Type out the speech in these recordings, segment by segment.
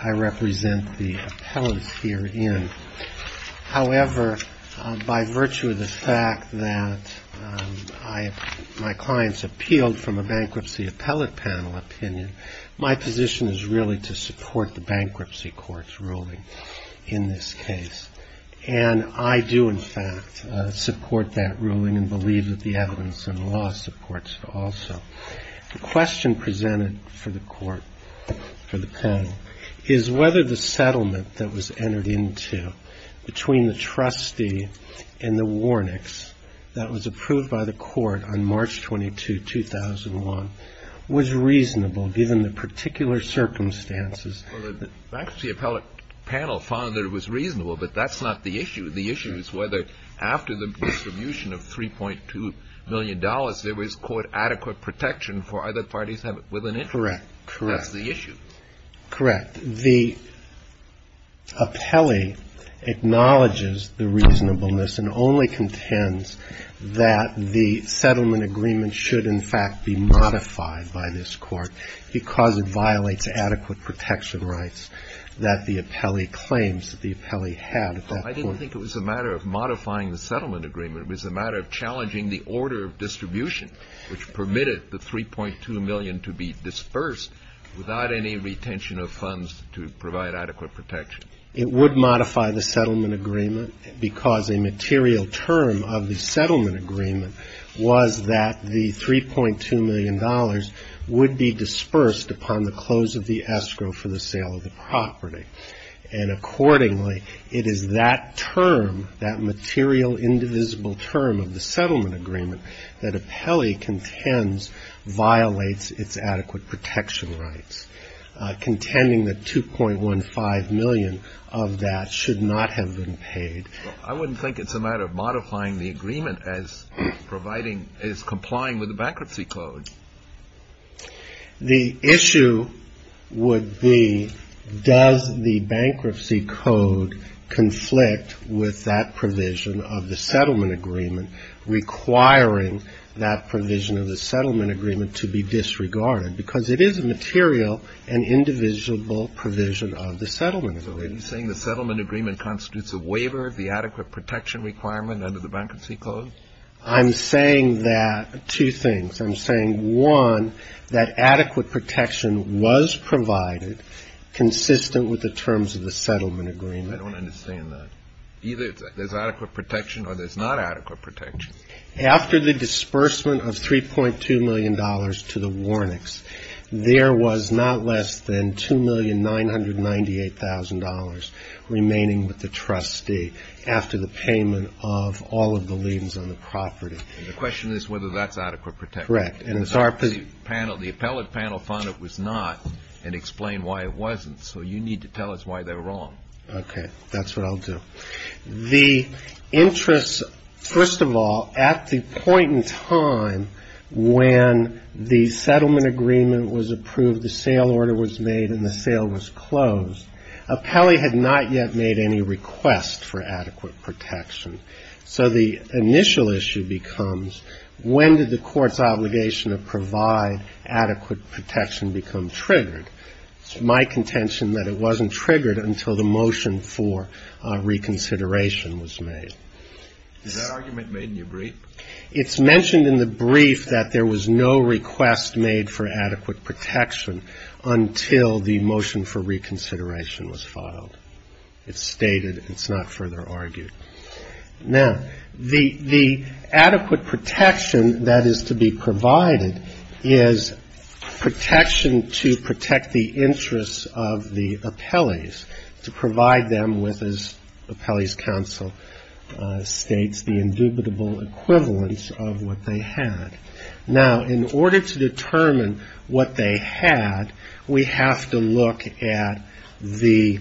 I represent the appellants herein. However, by virtue of the fact that my clients appealed from a Bankruptcy Appellate Panel opinion, my position is really to support the Bankruptcy Court's ruling in this case. And I do, in fact, support that ruling and believe that the evidence and law supports it also. The question presented for the court, for the panel, is whether the settlement that was entered into between the trustee and the Warnicks that was approved by the court on March 22, 2001, was reasonable given the particular circumstances. Well, the Bankruptcy Appellate Panel found that it was reasonable, but that's not the issue. The issue is whether, after the distribution of $3.2 million, there was, quote, adequate protection for other parties with an interest. Correct. That's the issue. Correct. The appellee acknowledges the reasonableness and only contends that the settlement agreement should, in fact, be modified by this court because it violates adequate protection rights that the appellee claims that the appellee had at that point. I didn't think it was a matter of modifying the settlement agreement. It was a matter of challenging the order of distribution which permitted the $3.2 million to be dispersed without any retention of funds to provide adequate protection. It would modify the settlement agreement because a material term of the settlement agreement was that the $3.2 million would be dispersed upon the close of the escrow for the sale of the property. And accordingly, it is that term, that material, indivisible term of the settlement agreement that appellee contends violates its adequate protection rights, contending that $2.15 million of that should not have been paid. I wouldn't think it's a matter of modifying the agreement as providing, as complying with the Bankruptcy Code. The issue would be, does the Bankruptcy Code conflict with that provision of the settlement agreement requiring that provision of the settlement agreement to be disregarded? Because it is a material and indivisible provision of the settlement agreement. Are you saying the settlement agreement constitutes a waiver of the adequate protection requirement under the Bankruptcy Code? I'm saying that, two things. I'm saying, one, that adequate protection was provided consistent with the terms of the settlement agreement. I don't understand that. Either there's adequate protection or there's not adequate protection. After the disbursement of $3.2 million to the Warnicks, there was not less than $2,998,000 remaining with the trustee after the payment of all of the liens on the property. And the question is whether that's adequate protection. Correct. The appellate panel found it was not and explained why it wasn't. So you need to tell us why they're wrong. Okay. That's what I'll do. The interest, first of all, at the point in time when the settlement agreement was approved, the sale order was made, and the sale was closed, appellee had not yet made any request for adequate protection. So the initial issue becomes, when did the court's obligation to provide adequate protection become triggered? It's my contention that it wasn't triggered until the motion for reconsideration was made. Is that argument made in your brief? It's mentioned in the brief that there was no request made for adequate protection until the motion for reconsideration was filed. It's stated. It's not further argued. Now, the adequate protection that is to be provided is protection to protect the interests of the appellees, to provide them with, as Appellee's Counsel states, the indubitable equivalence of what they had. Now, in order to determine what they had, we have to look at the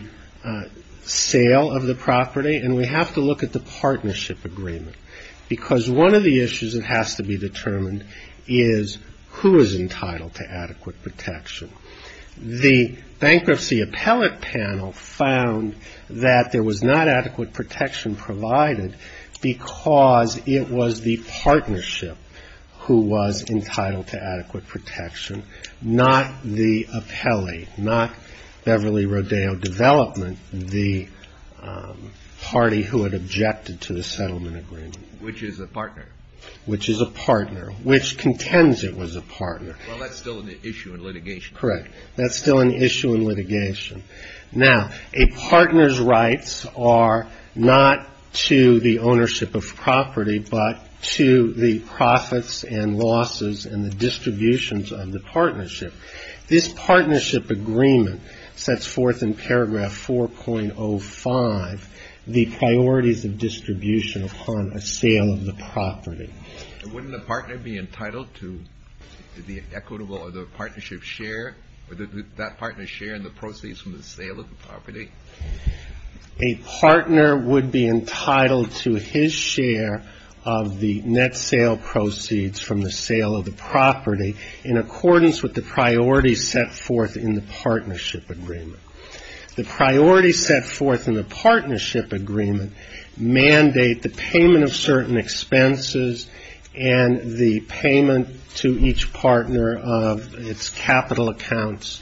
sale of the property, and we have to look at the partnership agreement, because one of the issues that has to be determined is who is entitled to adequate protection. The Bankruptcy Appellate Panel found that there was not adequate protection provided because it was the partnership who was entitled to adequate protection, not the appellee, not Beverly Rodeo Development, the party who had objected to the settlement agreement. Which is a partner. Which is a partner. Which contends it was a partner. Well, that's still an issue in litigation. Correct. That's still an issue in litigation. Now, a partner's rights are not to the ownership of property, but to the profits and losses and the distributions of the partnership. This partnership agreement sets forth in paragraph 4.05 the priorities of distribution upon a sale of the property. And wouldn't a partner be entitled to the equitable or the partnership share, or that partner's share in the proceeds from the sale of the property? A partner would be entitled to his share of the net sale proceeds from the sale of the property in accordance with the priorities set forth in the partnership agreement. The priorities set forth in the partnership agreement mandate the payment of certain expenses and the payment to each partner of its capital accounts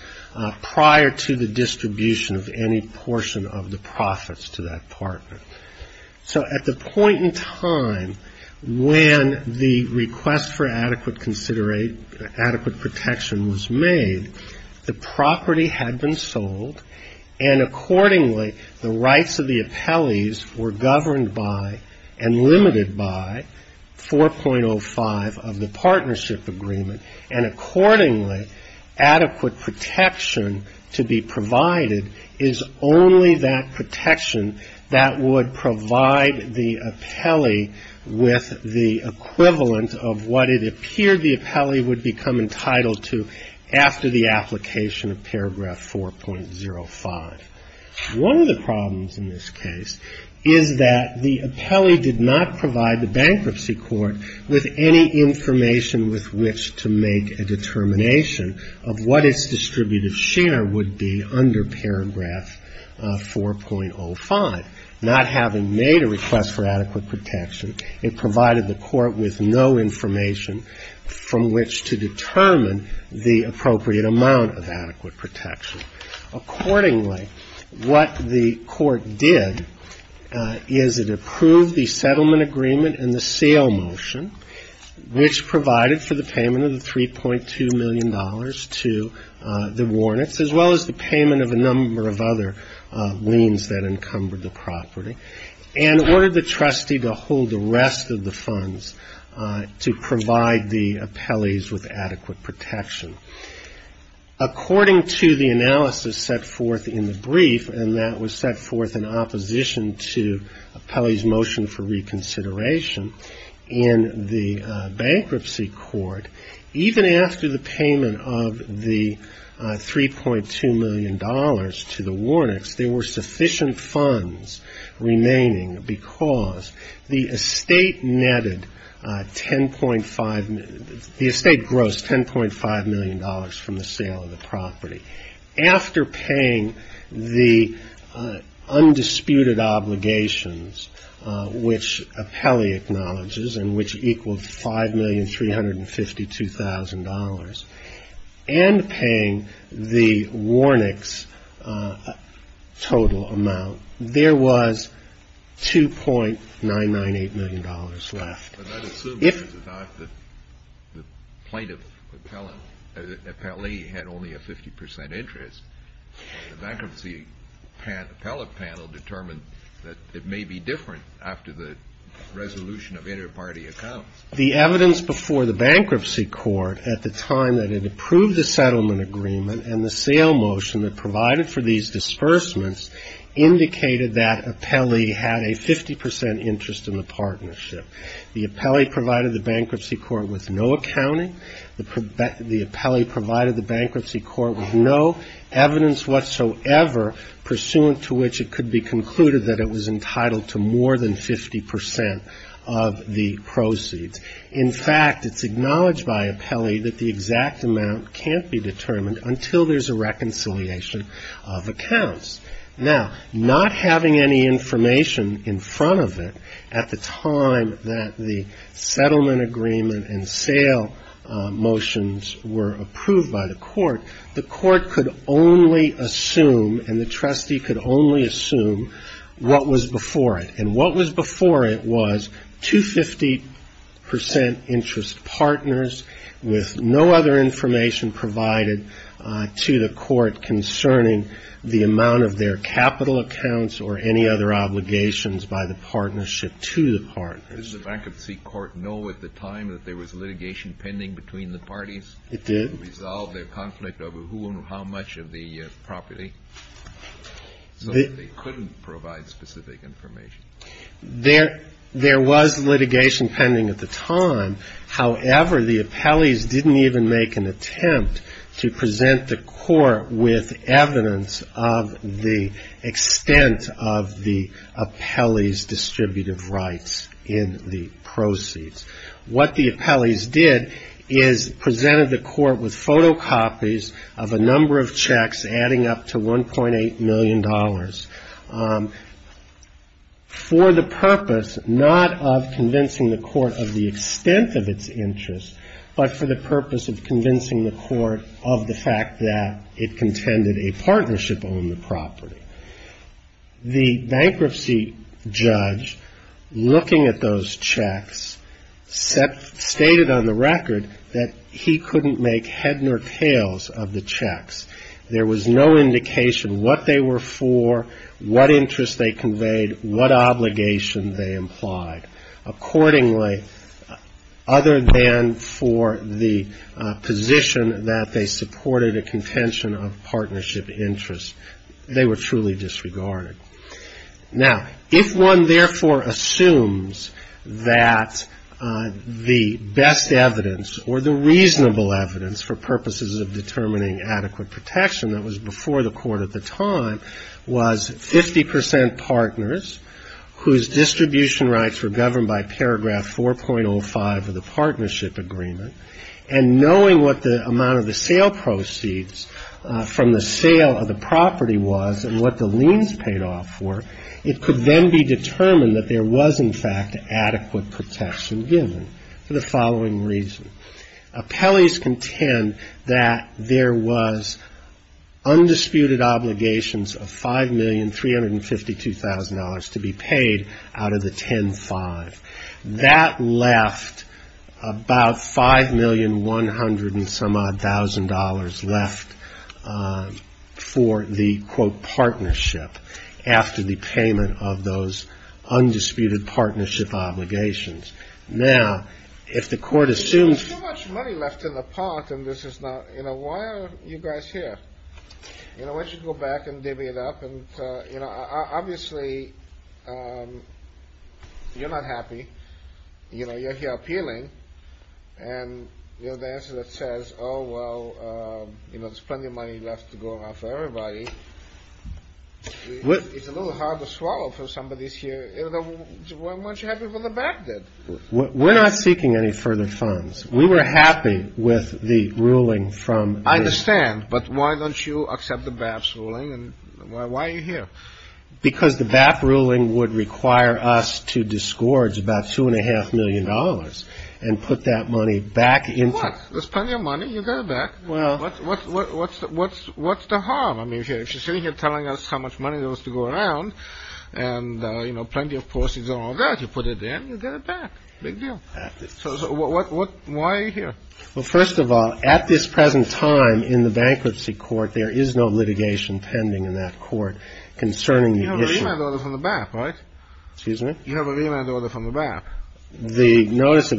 prior to the distribution of any portion of the profits to that partner. So at the point in time when the request for adequate protection was made, the property had been sold, and accordingly the rights of the appellees were governed by and limited by 4.05 of the partnership agreement. And accordingly, adequate protection to be provided is only that protection that would provide the appellee with the equivalent of what it appeared the appellee would become entitled to after the application of paragraph 4.05. One of the problems in this case is that the appellee did not provide the bankruptcy court with any information with which to make a determination of what its distributive share would be under paragraph 4.05. Not having made a request for adequate protection, it provided the court with no information from which to determine the appropriate amount of adequate protection. Accordingly, what the court did is it approved the settlement agreement and the sale motion, which provided for the payment of the $3.2 million to the Warnets, as well as the payment of a number of other liens that encumbered the property, and ordered the trustee to hold the rest of the funds to provide the appellees with adequate protection. According to the analysis set forth in the brief, and that was set forth in opposition to the appellee's motion for reconsideration, in the bankruptcy court, even after the payment of the $3.2 million to the Warnets, there were sufficient funds remaining because the estate netted $10.5 million. After paying the undisputed obligations, which appellee acknowledges, and which equaled $5,352,000, and paying the Warnets total amount, there was $2.998 million left. If the plaintiff appellee had only a 50 percent interest, the bankruptcy appellate panel determined that it may be different after the resolution of interparty accounts. The evidence before the bankruptcy court at the time that it approved the settlement agreement and the sale motion that provided for these disbursements indicated that appellee had a 50 percent interest in the partnership. The appellee provided the bankruptcy court with no accounting. The appellee provided the bankruptcy court with no evidence whatsoever pursuant to which it could be concluded that it was entitled to more than 50 percent of the proceeds. In fact, it's acknowledged by appellee that the exact amount can't be determined until there's a reconciliation of accounts. Now, not having any information in front of it at the time that the settlement agreement and sale motions were approved by the court, the court could only assume, and the trustee could only assume what was before it. And what was before it was two 50 percent interest partners with no other information provided to the court concerning the amount of their capital accounts or any other obligations by the partnership to the partners. The bankruptcy court know at the time that there was litigation pending between the parties? It did. To resolve their conflict over who and how much of the property? So they couldn't provide specific information. There was litigation pending at the time. However, the appellees didn't even make an attempt to present the court with evidence of the extent of the appellee's distributive rights in the proceeds. What the appellees did is presented the court with photocopies of a number of checks adding up to $1.8 million. For the purpose not of convincing the court of the extent of its interest, but for the purpose of convincing the court of the fact that it contended a partnership on the property. The bankruptcy judge looking at those checks stated on the record that he couldn't make head nor tails of the checks. There was no indication what they were for, what interest they conveyed, what obligation they implied. Accordingly, other than for the position that they supported a contention of partnership interest, they were truly disregarded. Now, if one therefore assumes that the best evidence or the reasonable evidence for purposes of determining adequate property, protection that was before the court at the time was 50 percent partners whose distribution rights were governed by Paragraph 4.05 of the Partnership Agreement, and knowing what the amount of the sale proceeds from the sale of the property was and what the liens paid off for, it could then be determined that there was, in fact, adequate protection given for the following reason. Appellees contend that there was undisputed obligations of $5,352,000 to be paid out of the 10-5. That left about $5,100,000-some-odd-thousand left for the, quote, partnership after the payment of those undisputed partnership obligations. Now, if the court assumes... Well, we're not seeking any further funds. We were happy with the ruling from... I understand, but why don't you accept the BAP ruling, and why are you here? Because the BAP ruling would require us to disgorge about $2.5 million and put that money back into... What? There's plenty of money. You get it back. What's the harm? I mean, if you're sitting here telling us how much money there was to go around and, you know, plenty of proceeds and all that, you put it in, you get it back. Big deal. So why are you here? Well, first of all, at this present time in the bankruptcy court, there is no litigation pending in that court concerning the issue. You have a remand order from the BAP, right? If you have a further notice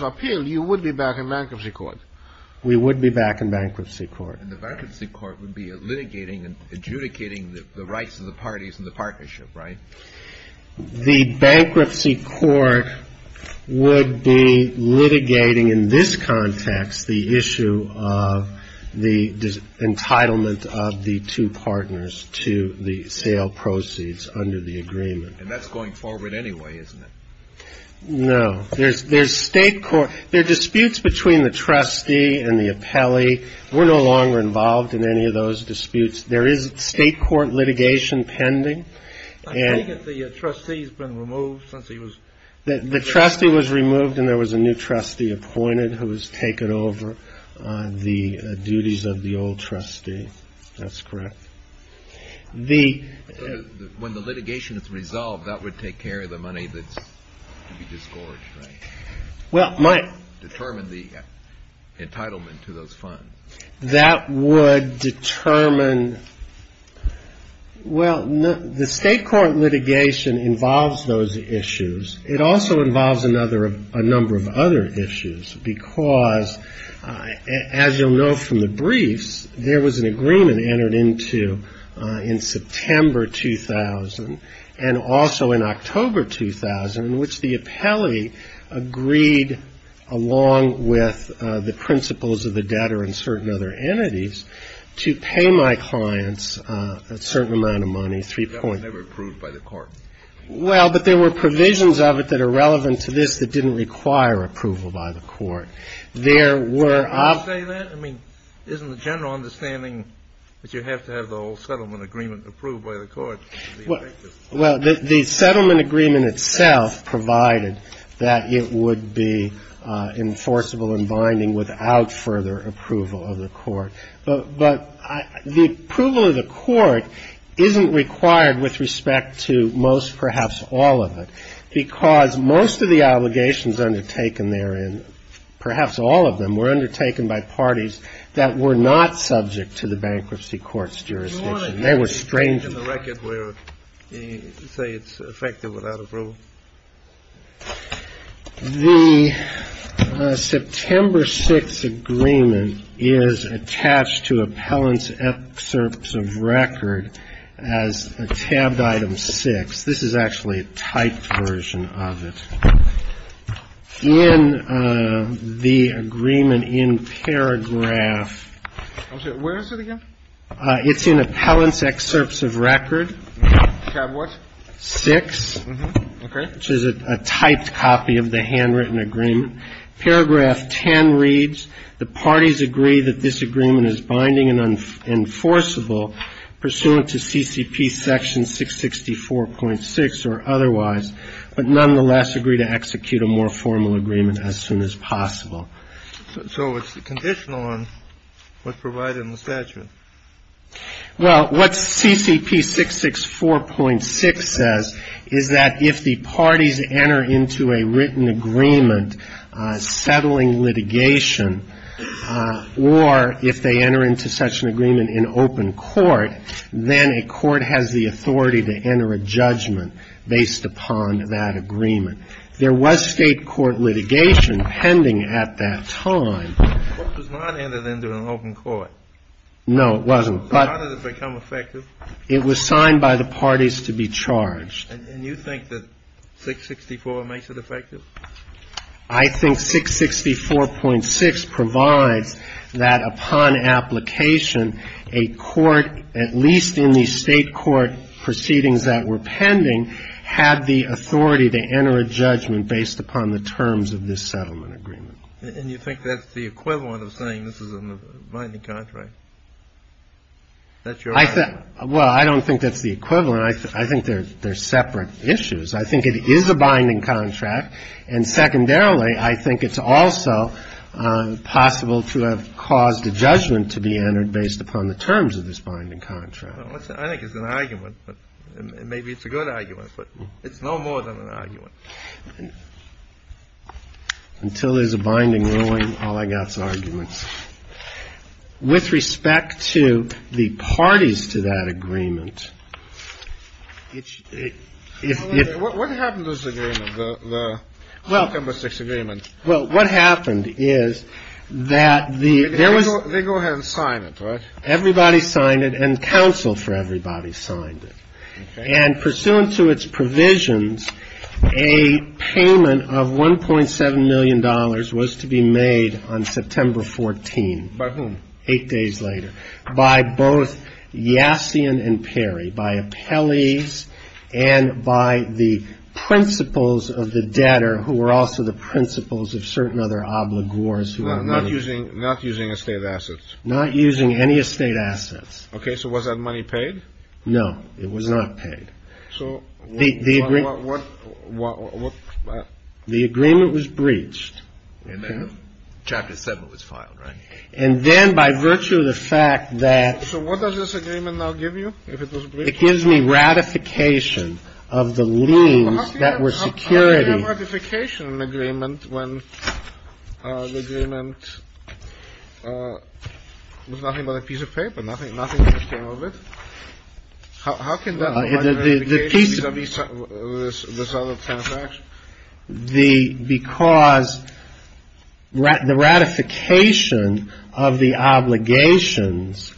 of appeal, you would be back in bankruptcy court. We would be back in bankruptcy court. And the bankruptcy court would be litigating and adjudicating the rights of the parties in the partnership, right? The bankruptcy court would be litigating in this context the issue of the entitlement of the two partners to the sale proceeds under the agreement. And that's going forward anyway, isn't it? No. There are disputes between the trustee and the appellee. We're no longer involved in any of those disputes. There is state court litigation pending. I take it the trustee's been removed since he was... Well, that would take care of the money that's to be disgorged, right? Determine the entitlement to those funds. That would determine... Well, the state court litigation involves those issues. It also involves a number of other issues because, as you'll know from the briefs, there was an agreement entered into in September 2000 and also in October 2000 in which the appellee agreed, along with the principles of the debtor and certain other entities, to pay my clients a certain amount of money, 3.... That was never approved by the court. Well, but there were provisions of it that are relevant to this that didn't require approval by the court. There were... Well, the settlement agreement itself provided that it would be enforceable and binding without further approval of the court. But the approval of the court isn't required with respect to most, perhaps all of it, because most of the allegations undertaken therein, perhaps all of them, were undertaken by parties that were not subject to the bankruptcy court's jurisdiction. They were strange... I'm sorry. The September 6th agreement is attached to appellant's excerpts of record as a tabbed item 6. This is actually a typed version of it. In the agreement in paragraph... Tab what? 6, which is a typed copy of the handwritten agreement. So it's conditional on what's provided in the statute. Well, what CCP 664.6 says is that if the parties enter into a written agreement settling litigation, or if they enter into such an agreement in open court, then a court has the authority to enter a judgment based upon that agreement. There was state court litigation pending at that time. The court does not enter into an open court. No, it wasn't, but... How did it become effective? It was signed by the parties to be charged. I think 664.6 provides that upon application, a court, at least in the state court proceedings that were pending, had the authority to enter a judgment based upon the terms of this settlement agreement. And you think that's the equivalent of saying this is a binding contract? Well, I don't think that's the equivalent. I think they're separate issues. I think it is a binding contract. And secondarily, I think it's also possible to have caused a judgment to be entered based upon the terms of this binding contract. I think it's an argument. Maybe it's a good argument, but it's no more than an argument. Until there's a binding ruling, all I got is arguments. With respect to the parties to that agreement... What happened to this agreement, the September 6th agreement? Well, what happened is that there was... And pursuant to its provisions, a payment of $1.7 million was to be made on September 14th. By whom? Eight days later, by both Yassian and Perry, by appellees and by the principles of the debtor, who were also the principles of certain other obligors. Not using estate assets. Not using any estate assets. Okay, so was that money paid? No, it was not paid. The agreement was breached. And then Chapter 7 was filed, right? And then by virtue of the fact that... So what does this agreement now give you, if it was breached? It gives me ratification of the liens that were security. How do you have ratification in an agreement when the agreement was nothing but a piece of paper? Nothing came of it? How can that be? Because the ratification of the obligations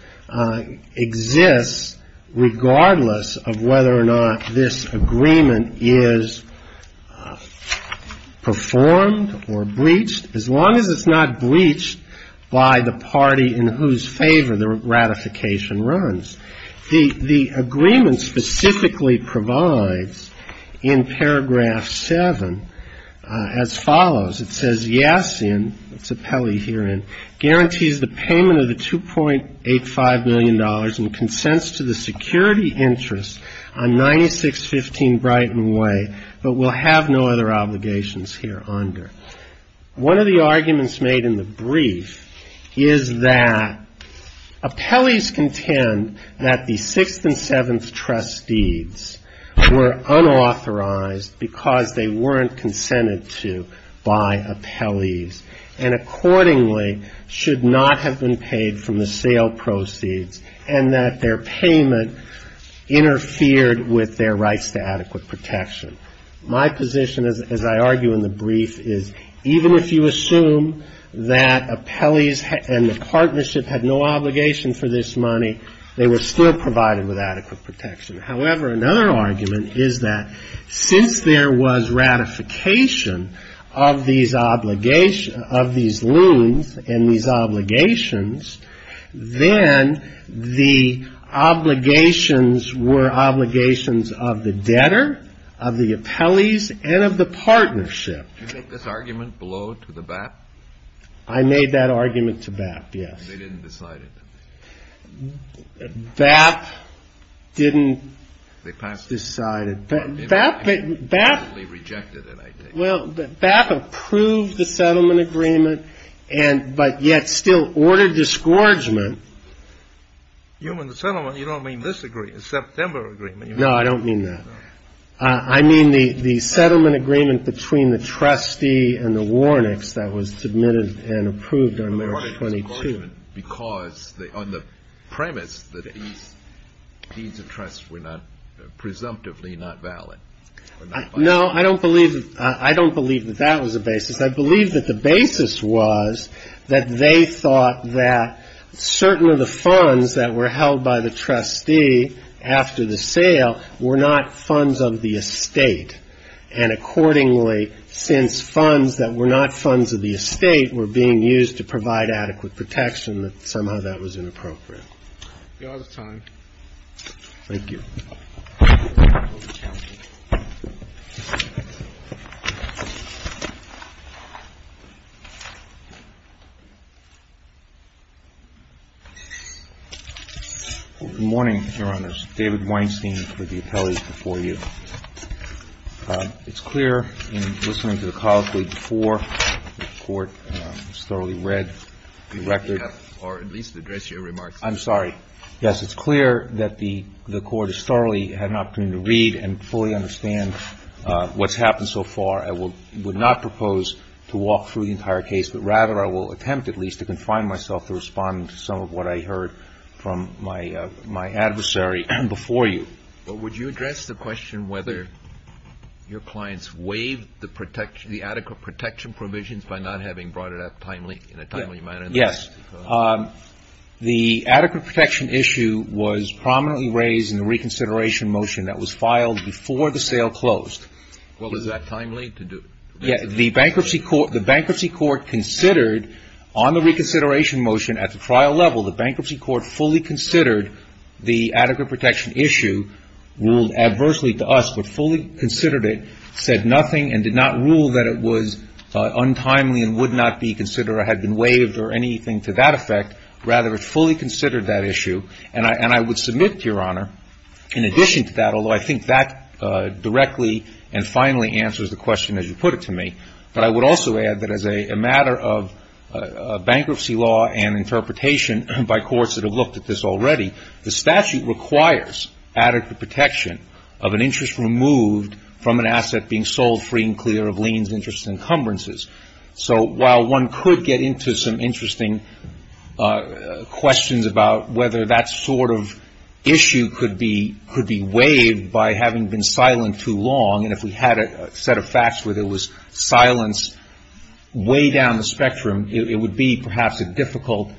exists regardless of whether or not this agreement is performed or breached, as long as it's not breached by the party in whose favor the ratification runs. The agreement specifically provides, in Paragraph 7, as follows. It says, One of the arguments made in the brief is that appellees contend that the Sixth and Seventh Trustees were unauthorized because they weren't consented to by appellees and accordingly should not have been paid from the sale proceeds and that their payment interfered with their rights to adequate protection. My position, as I argue in the brief, is even if you assume that appellees and the partnership had no obligation for this money, they were still provided with adequate protection. However, another argument is that since there was ratification of these liens and these obligations, then the obligations were obligations of the debtor, of the appellees, and of the partnership. Do you think this argument blowed to the BAP? I made that argument to BAP, yes. They didn't decide it? BAP didn't decide it. BAP approved the settlement agreement, but yet still ordered disgorgement. You mean the settlement, you don't mean this agreement, the September agreement. No, I don't mean that. I mean the settlement agreement between the trustee and the Warnicks that was submitted and approved on March 22. Because on the premise that these deeds of trust were not, presumptively not valid. No, I don't believe that that was the basis. I believe that the basis was that they thought that certain of the funds that were held by the trustee after the sale were not funds of the estate. And accordingly, since funds that were not funds of the estate were being used to provide adequate protection, that somehow that was inappropriate. Thank you. Good morning, Your Honors. David Weinstein with the appellate before you. It's clear in listening to the colleague before, the Court thoroughly read the record. Or at least address your remarks. I'm sorry. Yes, it's clear that the Court has thoroughly had an opportunity to read and fully understand what's happened so far. I would not propose to walk through the entire case, but rather I will attempt at least to confine myself to respond to some of what I heard from my adversary before you. But would you address the question whether your clients waived the adequate protection provisions by not having brought it up in a timely manner? Yes. The adequate protection issue was prominently raised in the reconsideration motion that was filed before the sale closed. Well, is that timely to do? Yes. The bankruptcy court considered on the reconsideration motion at the trial level, the bankruptcy court fully considered the adequate protection issue, ruled adversely to us, but fully considered it, said nothing, and did not rule that it was untimely and would not be considered or had been waived or anything to that effect. Rather, it fully considered that issue. And I would submit to Your Honor, in addition to that, although I think that directly and finally answers the question as you put it to me, that I would also add that as a matter of bankruptcy law and interpretation by courts that have looked at this already, the statute requires adequate protection of an interest removed from an asset being sold free and clear of liens, interests, and encumbrances. So while one could get into some interesting questions about whether that sort of issue could be waived by having been silent too long, and if we had a set of facts where there was silence way down the spectrum, it would be perhaps a difficult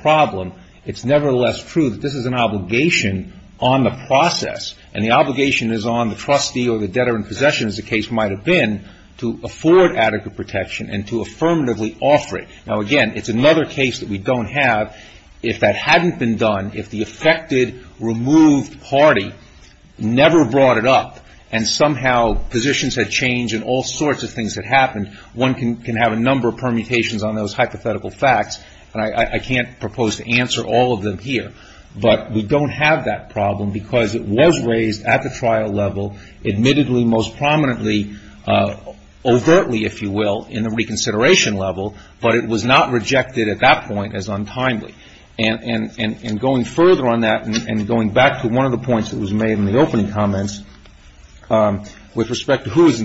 problem. It's nevertheless true that this is an obligation on the process, and the obligation is on the trustee or the debtor in possession, as the case might have been, to afford adequate protection and to affirmatively offer it. Now, again, it's another case that we don't have. If that hadn't been done, if the affected, removed party never brought it up, and somehow positions had changed and all sorts of things had happened, one can have a number of permutations on those hypothetical facts, and I can't propose to answer all of them here. But we don't have that problem because it was raised at the trial level, admittedly most prominently, overtly, if you will, in the reconsideration level, but it was not rejected at that point as untimely. And going further on that and going back to one of the points that was made in the opening comments with respect to who is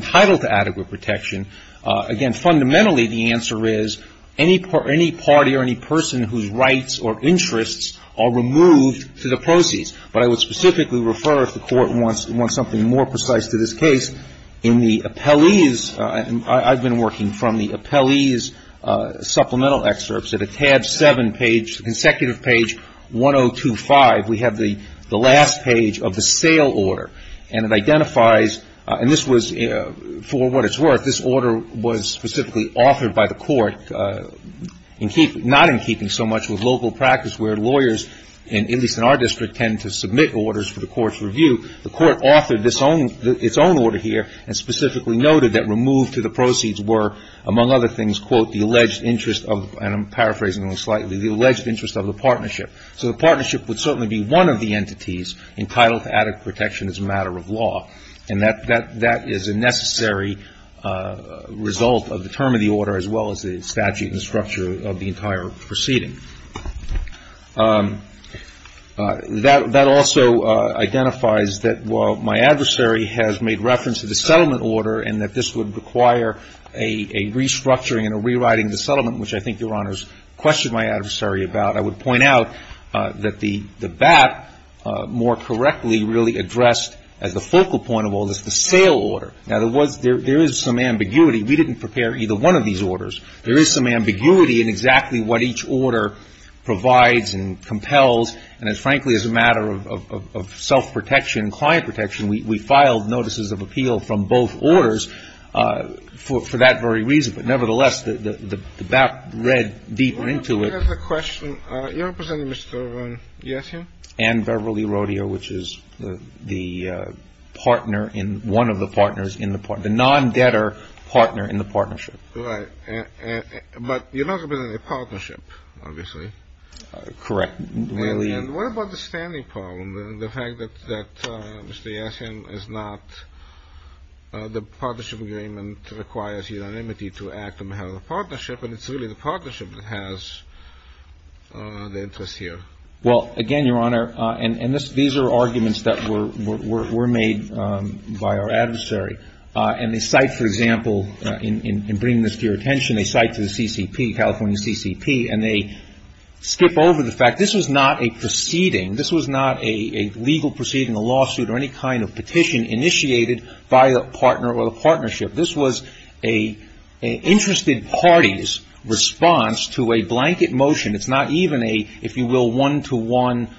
rights or interests are removed to the proceeds. But I would specifically refer, if the Court wants something more precise to this case, in the appellee's – I've been working from the appellee's supplemental excerpts at a tab 7 page, consecutive page 1025, we have the last page of the sale order, and it identifies – and this was, for what it's worth, this order was specifically authored by the court, not in keeping so much with local practice where lawyers, at least in our district, tend to submit orders for the court's review, the court authored its own order here and specifically noted that removed to the proceeds were, among other things, quote, the alleged interest of – and I'm paraphrasing slightly – the alleged interest of the partnership. So the partnership would certainly be one of the entities entitled to added protection as a matter of law. And that is a necessary result of the term of the order as well as the statute and structure of the entire proceeding. That also identifies that while my adversary has made reference to the settlement order and that this would require a restructuring and a rewriting of the settlement, which I think Your Honors questioned my adversary about, I would point out that the BAT more correctly really addressed, as the focal point of all this, the sale order. Now, there was – there is some ambiguity. We didn't prepare either one of these orders. There is some ambiguity in exactly what each order provides and compels. And it's – frankly, as a matter of self-protection, client protection, we filed notices of appeal from both orders for that very reason. But nevertheless, the BAT read deeper into it. I have a question. You're representing Mr. Yessin? And Beverly Rodeo, which is the partner in – one of the partners in the – the non-debtor partner in the partnership. Right. But you're not representing a partnership, obviously. Correct. And what about the standing problem, the fact that Mr. Yessin is not – the partnership agreement requires unanimity to act on behalf of the partnership, and it's really the partnership that has the interest here. Well, again, Your Honor, and these are arguments that were made by our adversary. And they cite, for example, in bringing this to your attention, they cite to the CCP, California CCP, and they skip over the fact this was not a proceeding. This was not a legal proceeding, a lawsuit, or any kind of petition initiated by the partner or the partnership. This was an interested party's response to a blanket motion. It's not even a, if you will, one-to-one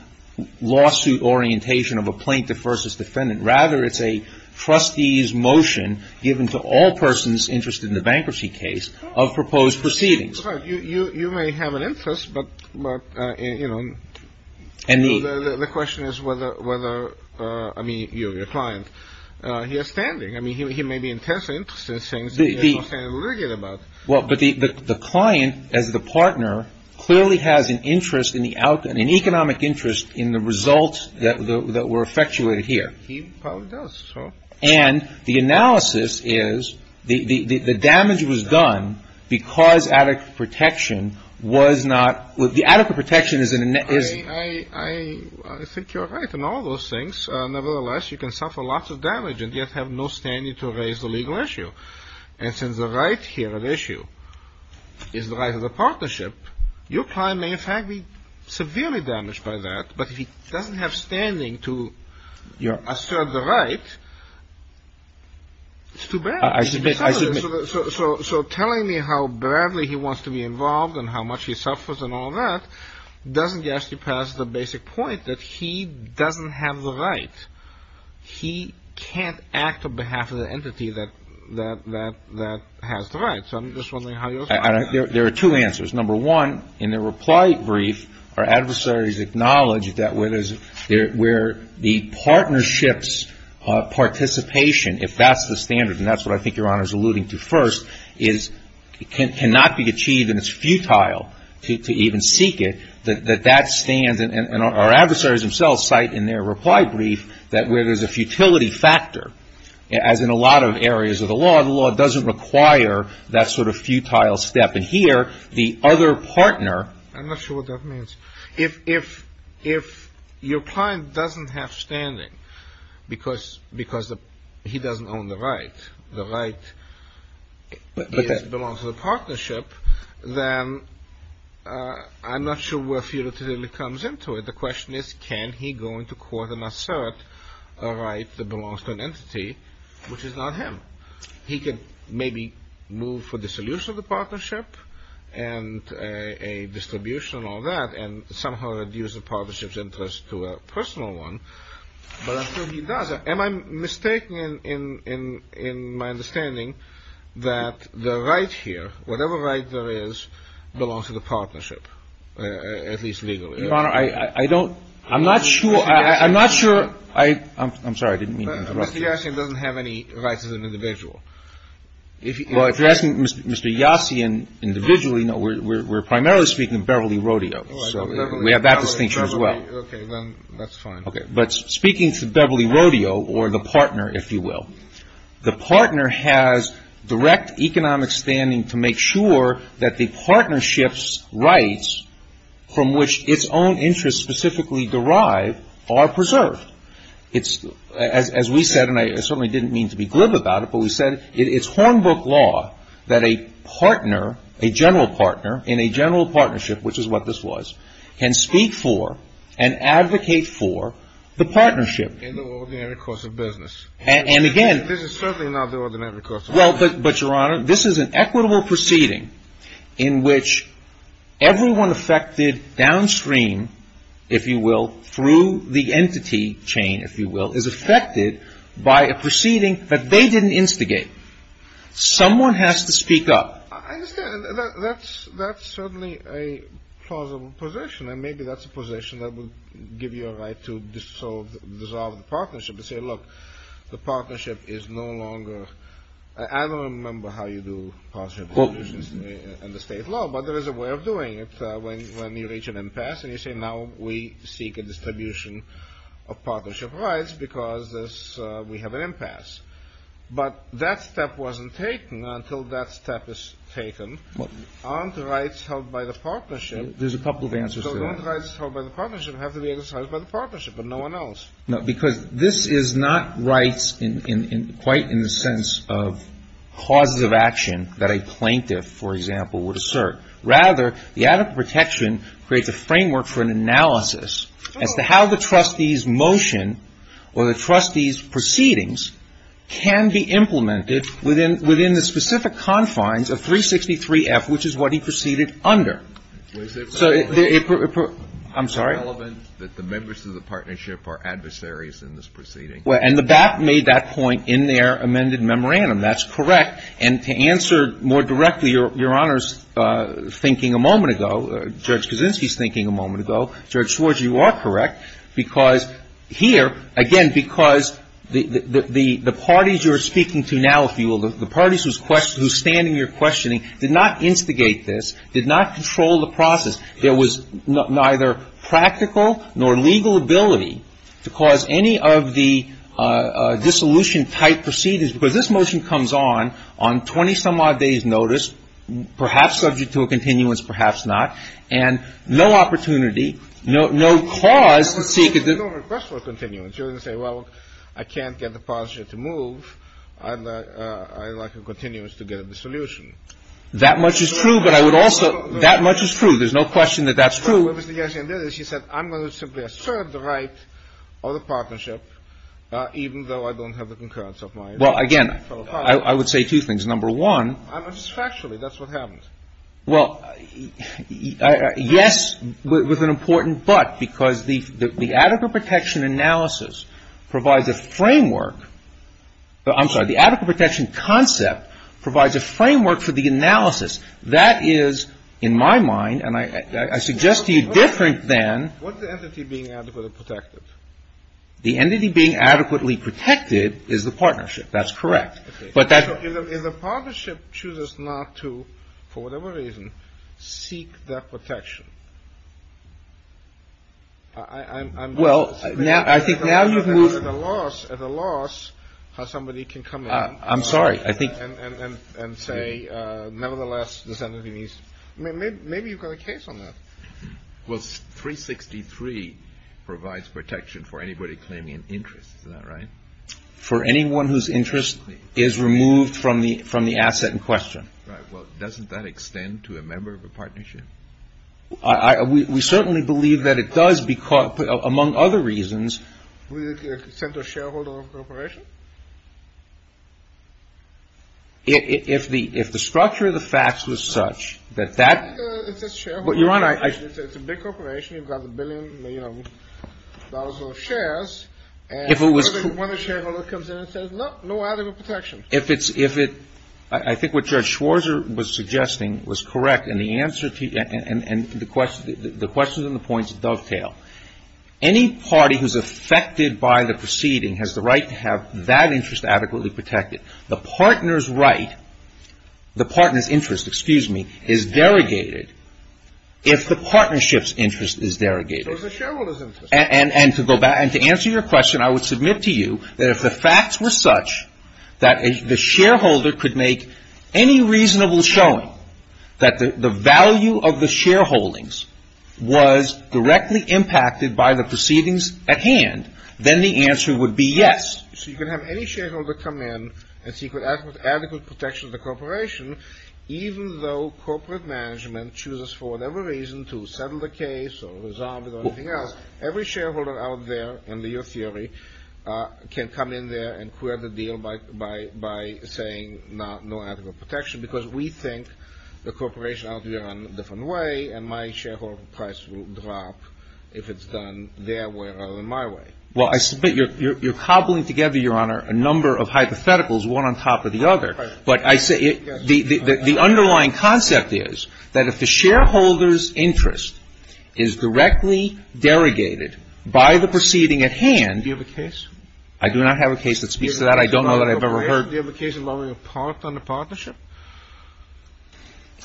lawsuit orientation of a plaintiff versus defendant. Rather, it's a trustee's motion given to all persons interested in the bankruptcy case of proposed proceedings. You may have an interest, but, you know, the question is whether – I mean, you, your client. He has standing. I mean, he may be intensely interested in things that you're not saying anything about. Well, but the client, as the partner, clearly has an interest in the outcome, an economic interest in the results that were effectuated here. He probably does. And the analysis is the damage was done because adequate protection was not – the adequate protection is – I think you're right in all those things. Nevertheless, you can suffer lots of damage and yet have no standing to raise the legal issue. And since the right here at issue is the right of the partnership, your client may in fact be severely damaged by that. But if he doesn't have standing to assert the right, it's too bad. So telling me how badly he wants to be involved and how much he suffers and all that doesn't get us past the basic point that he doesn't have the right. He can't act on behalf of the entity that has the right. So I'm just wondering how you're – There are two answers. Number one, in the reply brief, our adversaries acknowledge that where there's – where the partnership's participation, if that's the standard, and that's what I think Your Honor is alluding to first, is – cannot be achieved and it's futile to even seek it, that that stands – and our adversaries themselves cite in their reply brief that where there's a futility factor, as in a lot of areas of the law, the law doesn't require that sort of futile step. And here, the other partner – I'm not sure what that means. If your client doesn't have standing because he doesn't own the right, the right belongs to the question is, can he go into court and assert a right that belongs to an entity which is not him? He could maybe move for dissolution of the partnership and a distribution and all that and somehow reduce the partnership's interest to a personal one, but I'm sure he does. Am I mistaken in my understanding that the right here, whatever right there is, belongs to the I'm not sure – I'm sorry, I didn't mean to interrupt you. Mr. Yassian doesn't have any rights as an individual. Well, if you're asking Mr. Yassian individually, no, we're primarily speaking of Beverly Rodeo, so we have that distinction as well. Okay, then that's fine. Okay, but speaking to Beverly Rodeo or the partner, if you will, the partner has direct economic sure that the partnership's rights from which its own interests specifically derive are preserved. As we said, and I certainly didn't mean to be glib about it, but we said it's Hornbrook law that a partner, a general partner in a general partnership, which is what this was, can speak for and advocate for the partnership. In the ordinary course of business. And again – This is certainly not the ordinary course of business. Well, but, Your Honor, this is an equitable proceeding in which everyone affected downstream, if you will, through the entity chain, if you will, is affected by a proceeding that they didn't instigate. Someone has to speak up. I understand. That's certainly a plausible position, and maybe that's a position that would give you a right to dissolve the partnership and say, look, the partnership is no longer – I don't remember how you do partnership in the state law, but there is a way of doing it when you reach an impasse. And you say, now we seek a distribution of partnership rights because we have an impasse. But that step wasn't taken until that step is taken. Aren't rights held by the partnership – There's a couple of answers to that. So don't rights held by the partnership have to be exercised by the partnership and no one else? No, because this is not rights quite in the sense of causes of action that a plaintiff, for example, would assert. Rather, the adequate protection creates a framework for an analysis as to how the trustee's motion or the trustee's proceedings can be implemented within the specific confines of 363F, which is what he proceeded under. Was it relevant that the members of the partnership are adversaries in this proceeding? And the BAP made that point in their amended memorandum. That's correct. And to answer more directly Your Honor's thinking a moment ago, Judge Kaczynski's thinking a moment ago, Judge Schwartz, you are correct, because here, again, because the parties you are speaking to now, if you will, the parties who are standing here questioning did not instigate this, did not control the process. There was neither practical nor legal ability to cause any of the dissolution-type proceedings, because this motion comes on on 20-some-odd days' notice, perhaps subject to a continuance, perhaps not, and no opportunity, no cause to seek it. But you're going to say, well, I can't get the partnership to move. I'd like a continuance to get a dissolution. That much is true, but I would also- No, no, no. That much is true. There's no question that that's true. What Mr. Gershwin did is he said, I'm going to simply assert the right of the partnership, even though I don't have the concurrence of my fellow partners. Well, again, I would say two things. Number one- I mean, it's factually. That's what happens. Well, yes, with an important but, because the adequate protection analysis provides a framework. I'm sorry. The adequate protection concept provides a framework for the analysis. That is, in my mind, and I suggest to you different than- What's the entity being adequately protected? The entity being adequately protected is the partnership. That's correct. If the partnership chooses not to, for whatever reason, seek that protection, I'm not- Well, I think now you've moved- At a loss how somebody can come in- I'm sorry, I think- And say, nevertheless, this entity needs- Maybe you've got a case on that. Well, 363 provides protection for anybody claiming an interest. Is that right? For anyone whose interest is removed from the asset in question. Right. Well, doesn't that extend to a member of a partnership? We certainly believe that it does, among other reasons. Would it extend to a shareholder of a corporation? If the structure of the facts was such that that- It's a shareholder. Your Honor, I- It's a big corporation. You've got a billion, you know, dollars worth of shares. If it was- And certainly when a shareholder comes in and says, no, no adequate protection. If it's- I think what Judge Schwarzer was suggesting was correct, and the answer to- and the questions and the points dovetail. Any party who's affected by the proceeding has the right to have that interest adequately protected. The partner's right, the partner's interest, excuse me, is derogated if the partnership's interest is derogated. So it's a shareholder's interest. And to answer your question, I would submit to you that if the facts were such that the shareholder could make any reasonable showing that the value of the shareholdings was directly impacted by the proceedings at hand, then the answer would be yes. So you can have any shareholder come in and seek adequate protection of the corporation, even though corporate management chooses for whatever reason to settle the case or resolve it or anything else. Every shareholder out there, in your theory, can come in there and clear the deal by saying no adequate protection, because we think the corporation ought to be run a different way, and my shareholder price will drop if it's done their way rather than my way. Well, I submit you're cobbling together, Your Honor, a number of hypotheticals, one on top of the other. But I say the underlying concept is that if the shareholder's interest is directly derogated by the proceeding at hand. Do you have a case? I do not have a case that speaks to that. I don't know that I've ever heard. Do you have a case involving a part on the partnership?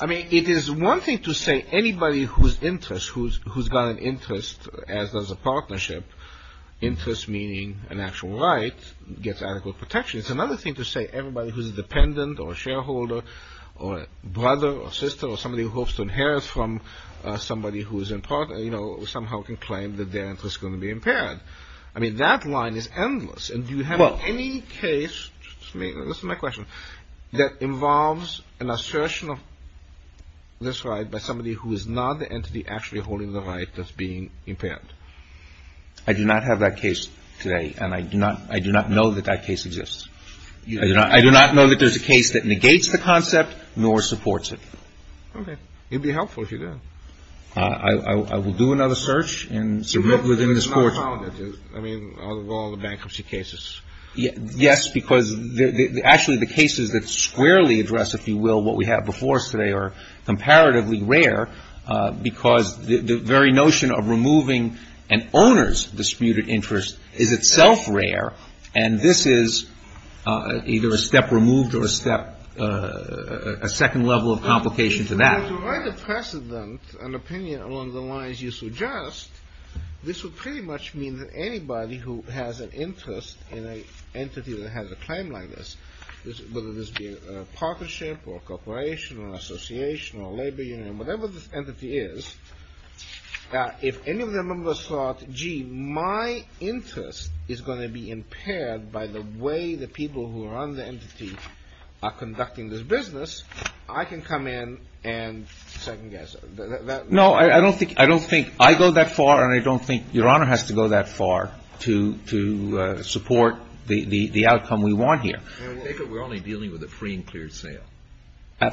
I mean, it is one thing to say anybody whose interest, who's got an interest as does a partnership, interest meaning an actual right, gets adequate protection. It's another thing to say everybody who's a dependent or a shareholder or a brother or sister or somebody who hopes to inherit from somebody who somehow can claim that their interest is going to be impaired. I mean, that line is endless. And do you have any case, this is my question, that involves an assertion of this right by somebody who is not the entity actually holding the right that's being impaired? I do not have that case today. And I do not know that that case exists. I do not know that there's a case that negates the concept nor supports it. Okay. It would be helpful if you did. I will do another search and submit within this court. I mean, out of all the bankruptcy cases. Yes, because actually the cases that squarely address, if you will, what we have before us today are comparatively rare because the very notion of removing an owner's disputed interest is itself rare. And this is either a step removed or a second level of complication to that. If you were to write a precedent, an opinion along the lines you suggest, this would pretty much mean that anybody who has an interest in an entity that has a claim like this, whether this be a partnership or a corporation or an association or a labor union, whatever this entity is, if any of the members thought, gee, my interest is going to be impaired by the way the people who are on the entity are conducting this business, I can come in and second guess. No, I don't think I go that far and I don't think Your Honor has to go that far to support the outcome we want here. David, we're only dealing with a free and cleared sale.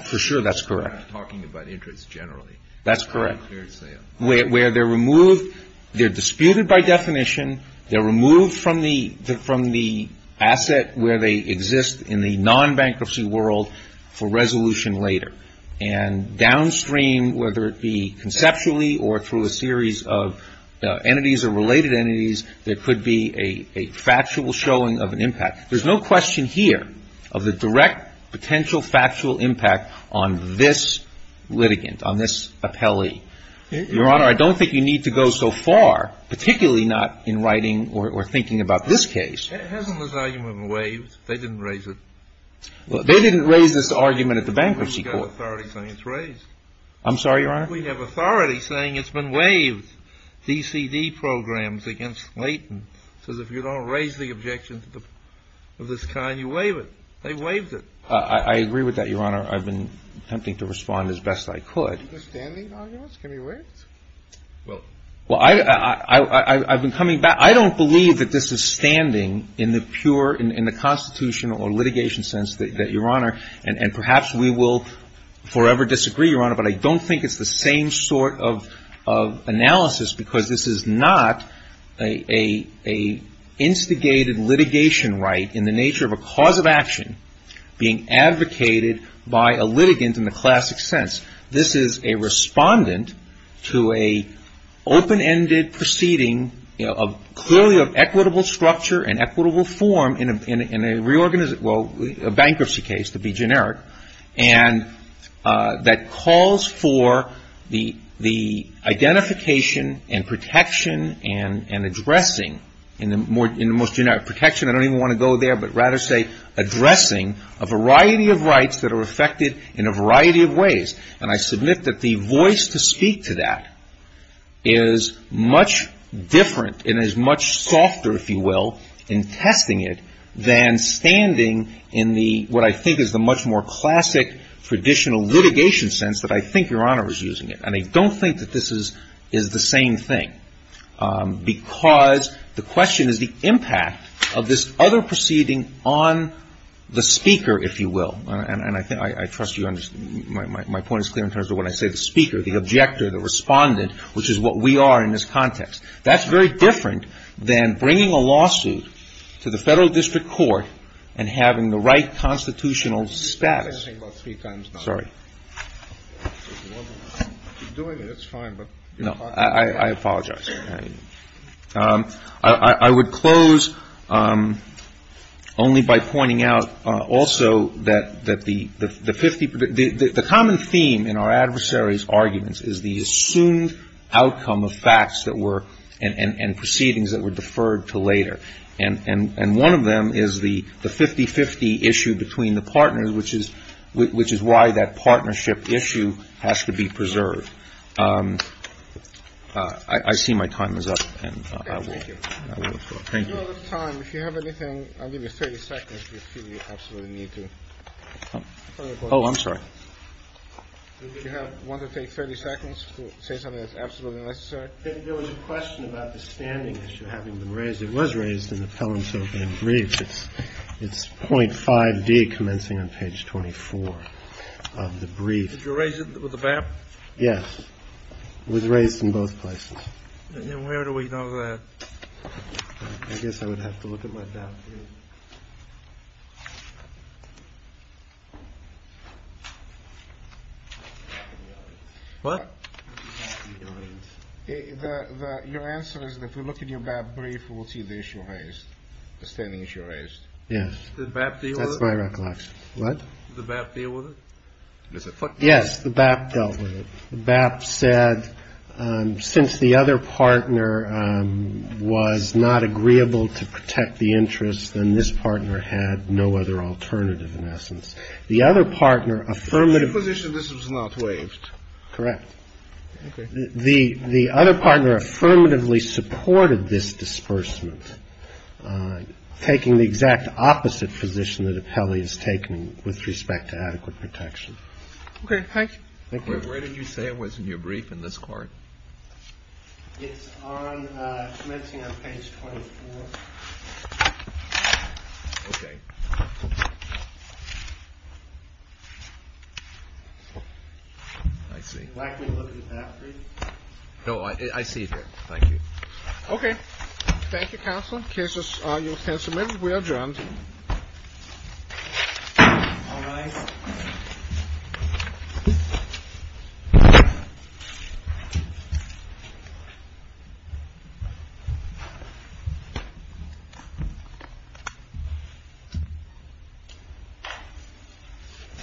For sure, that's correct. We're not talking about interest generally. That's correct. Free and cleared sale. Where they're removed, they're disputed by definition, they're removed from the asset where they exist in the non-bankruptcy world for resolution later. And downstream, whether it be conceptually or through a series of entities or related entities, there could be a factual showing of an impact. There's no question here of the direct potential factual impact on this litigant, on this appellee. Your Honor, I don't think you need to go so far, particularly not in writing or thinking about this case. Hasn't this argument been waived? They didn't raise it. They didn't raise this argument at the bankruptcy court. We have authority saying it's raised. I'm sorry, Your Honor? We have authority saying it's been waived. DCD programs against Layton says if you don't raise the objections of this kind, you waive it. They waived it. I agree with that, Your Honor. I've been attempting to respond as best I could. Is this a standing argument? Can we waive it? Well, I've been coming back. I don't believe that this is standing in the pure, in the constitutional or litigation sense that, Your Honor, and perhaps we will forever disagree, Your Honor, but I don't think it's the same sort of analysis because this is not an instigated litigation right in the nature of a cause of action being advocated by a litigant in the classic sense. This is a respondent to an open-ended proceeding, you know, clearly of equitable structure and equitable form in a bankruptcy case, to be generic, and that calls for the identification and protection and addressing, in the most generic, protection. I don't even want to go there, but rather say addressing a variety of rights that are affected in a variety of ways. And I submit that the voice to speak to that is much different and is much softer, if you will, in testing it than standing in the, what I think is the much more classic traditional litigation sense that I think Your Honor is using it. And I don't think that this is the same thing because the question is the impact of this other proceeding on the speaker, if you will. And I think I trust you on this. My point is clear in terms of when I say the speaker, the objector, the respondent, which is what we are in this context. That's very different than bringing a lawsuit to the Federal District Court and having the right constitutional status. Sorry. I apologize. I would close only by pointing out also that the common theme in our adversaries' arguments is the assumed outcome of facts that were and proceedings that were deferred to later. And one of them is the 50-50 issue between the partners, which is which is why that partnership issue has to be preserved. I see my time is up. Thank you. Thank you. Oh, I'm sorry. You want to take 30 seconds to say something that's absolutely necessary. There was a question about the standing issue having been raised. It was raised in the Pelham. So in brief, it's it's point five D commencing on page 24 of the brief. You raise it with the back. Yes. It was raised in both places. Where do we know that? I guess I would have to look at my. What your answer is, if you look at your brief, we'll see the issue raised. The standing issue raised. Yes. That's my recollection. What the BAP deal with it. Yes. The BAP dealt with it. BAP said since the other partner was not agreeable to protect the interest, then this partner had no other alternative in essence. The other partner affirmative. This was not waived. Correct. The other partner affirmatively supported this disbursement, taking the exact opposite position that appellee is taking with respect to adequate protection. Okay. Thank you. Where did you say it was in your brief in this court? It's on page 24. Okay. I see. No, I see it here. Thank you. Okay. Thank you, counsel. Cases are you can submit. We are adjourned. All right.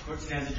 Court stands adjourned.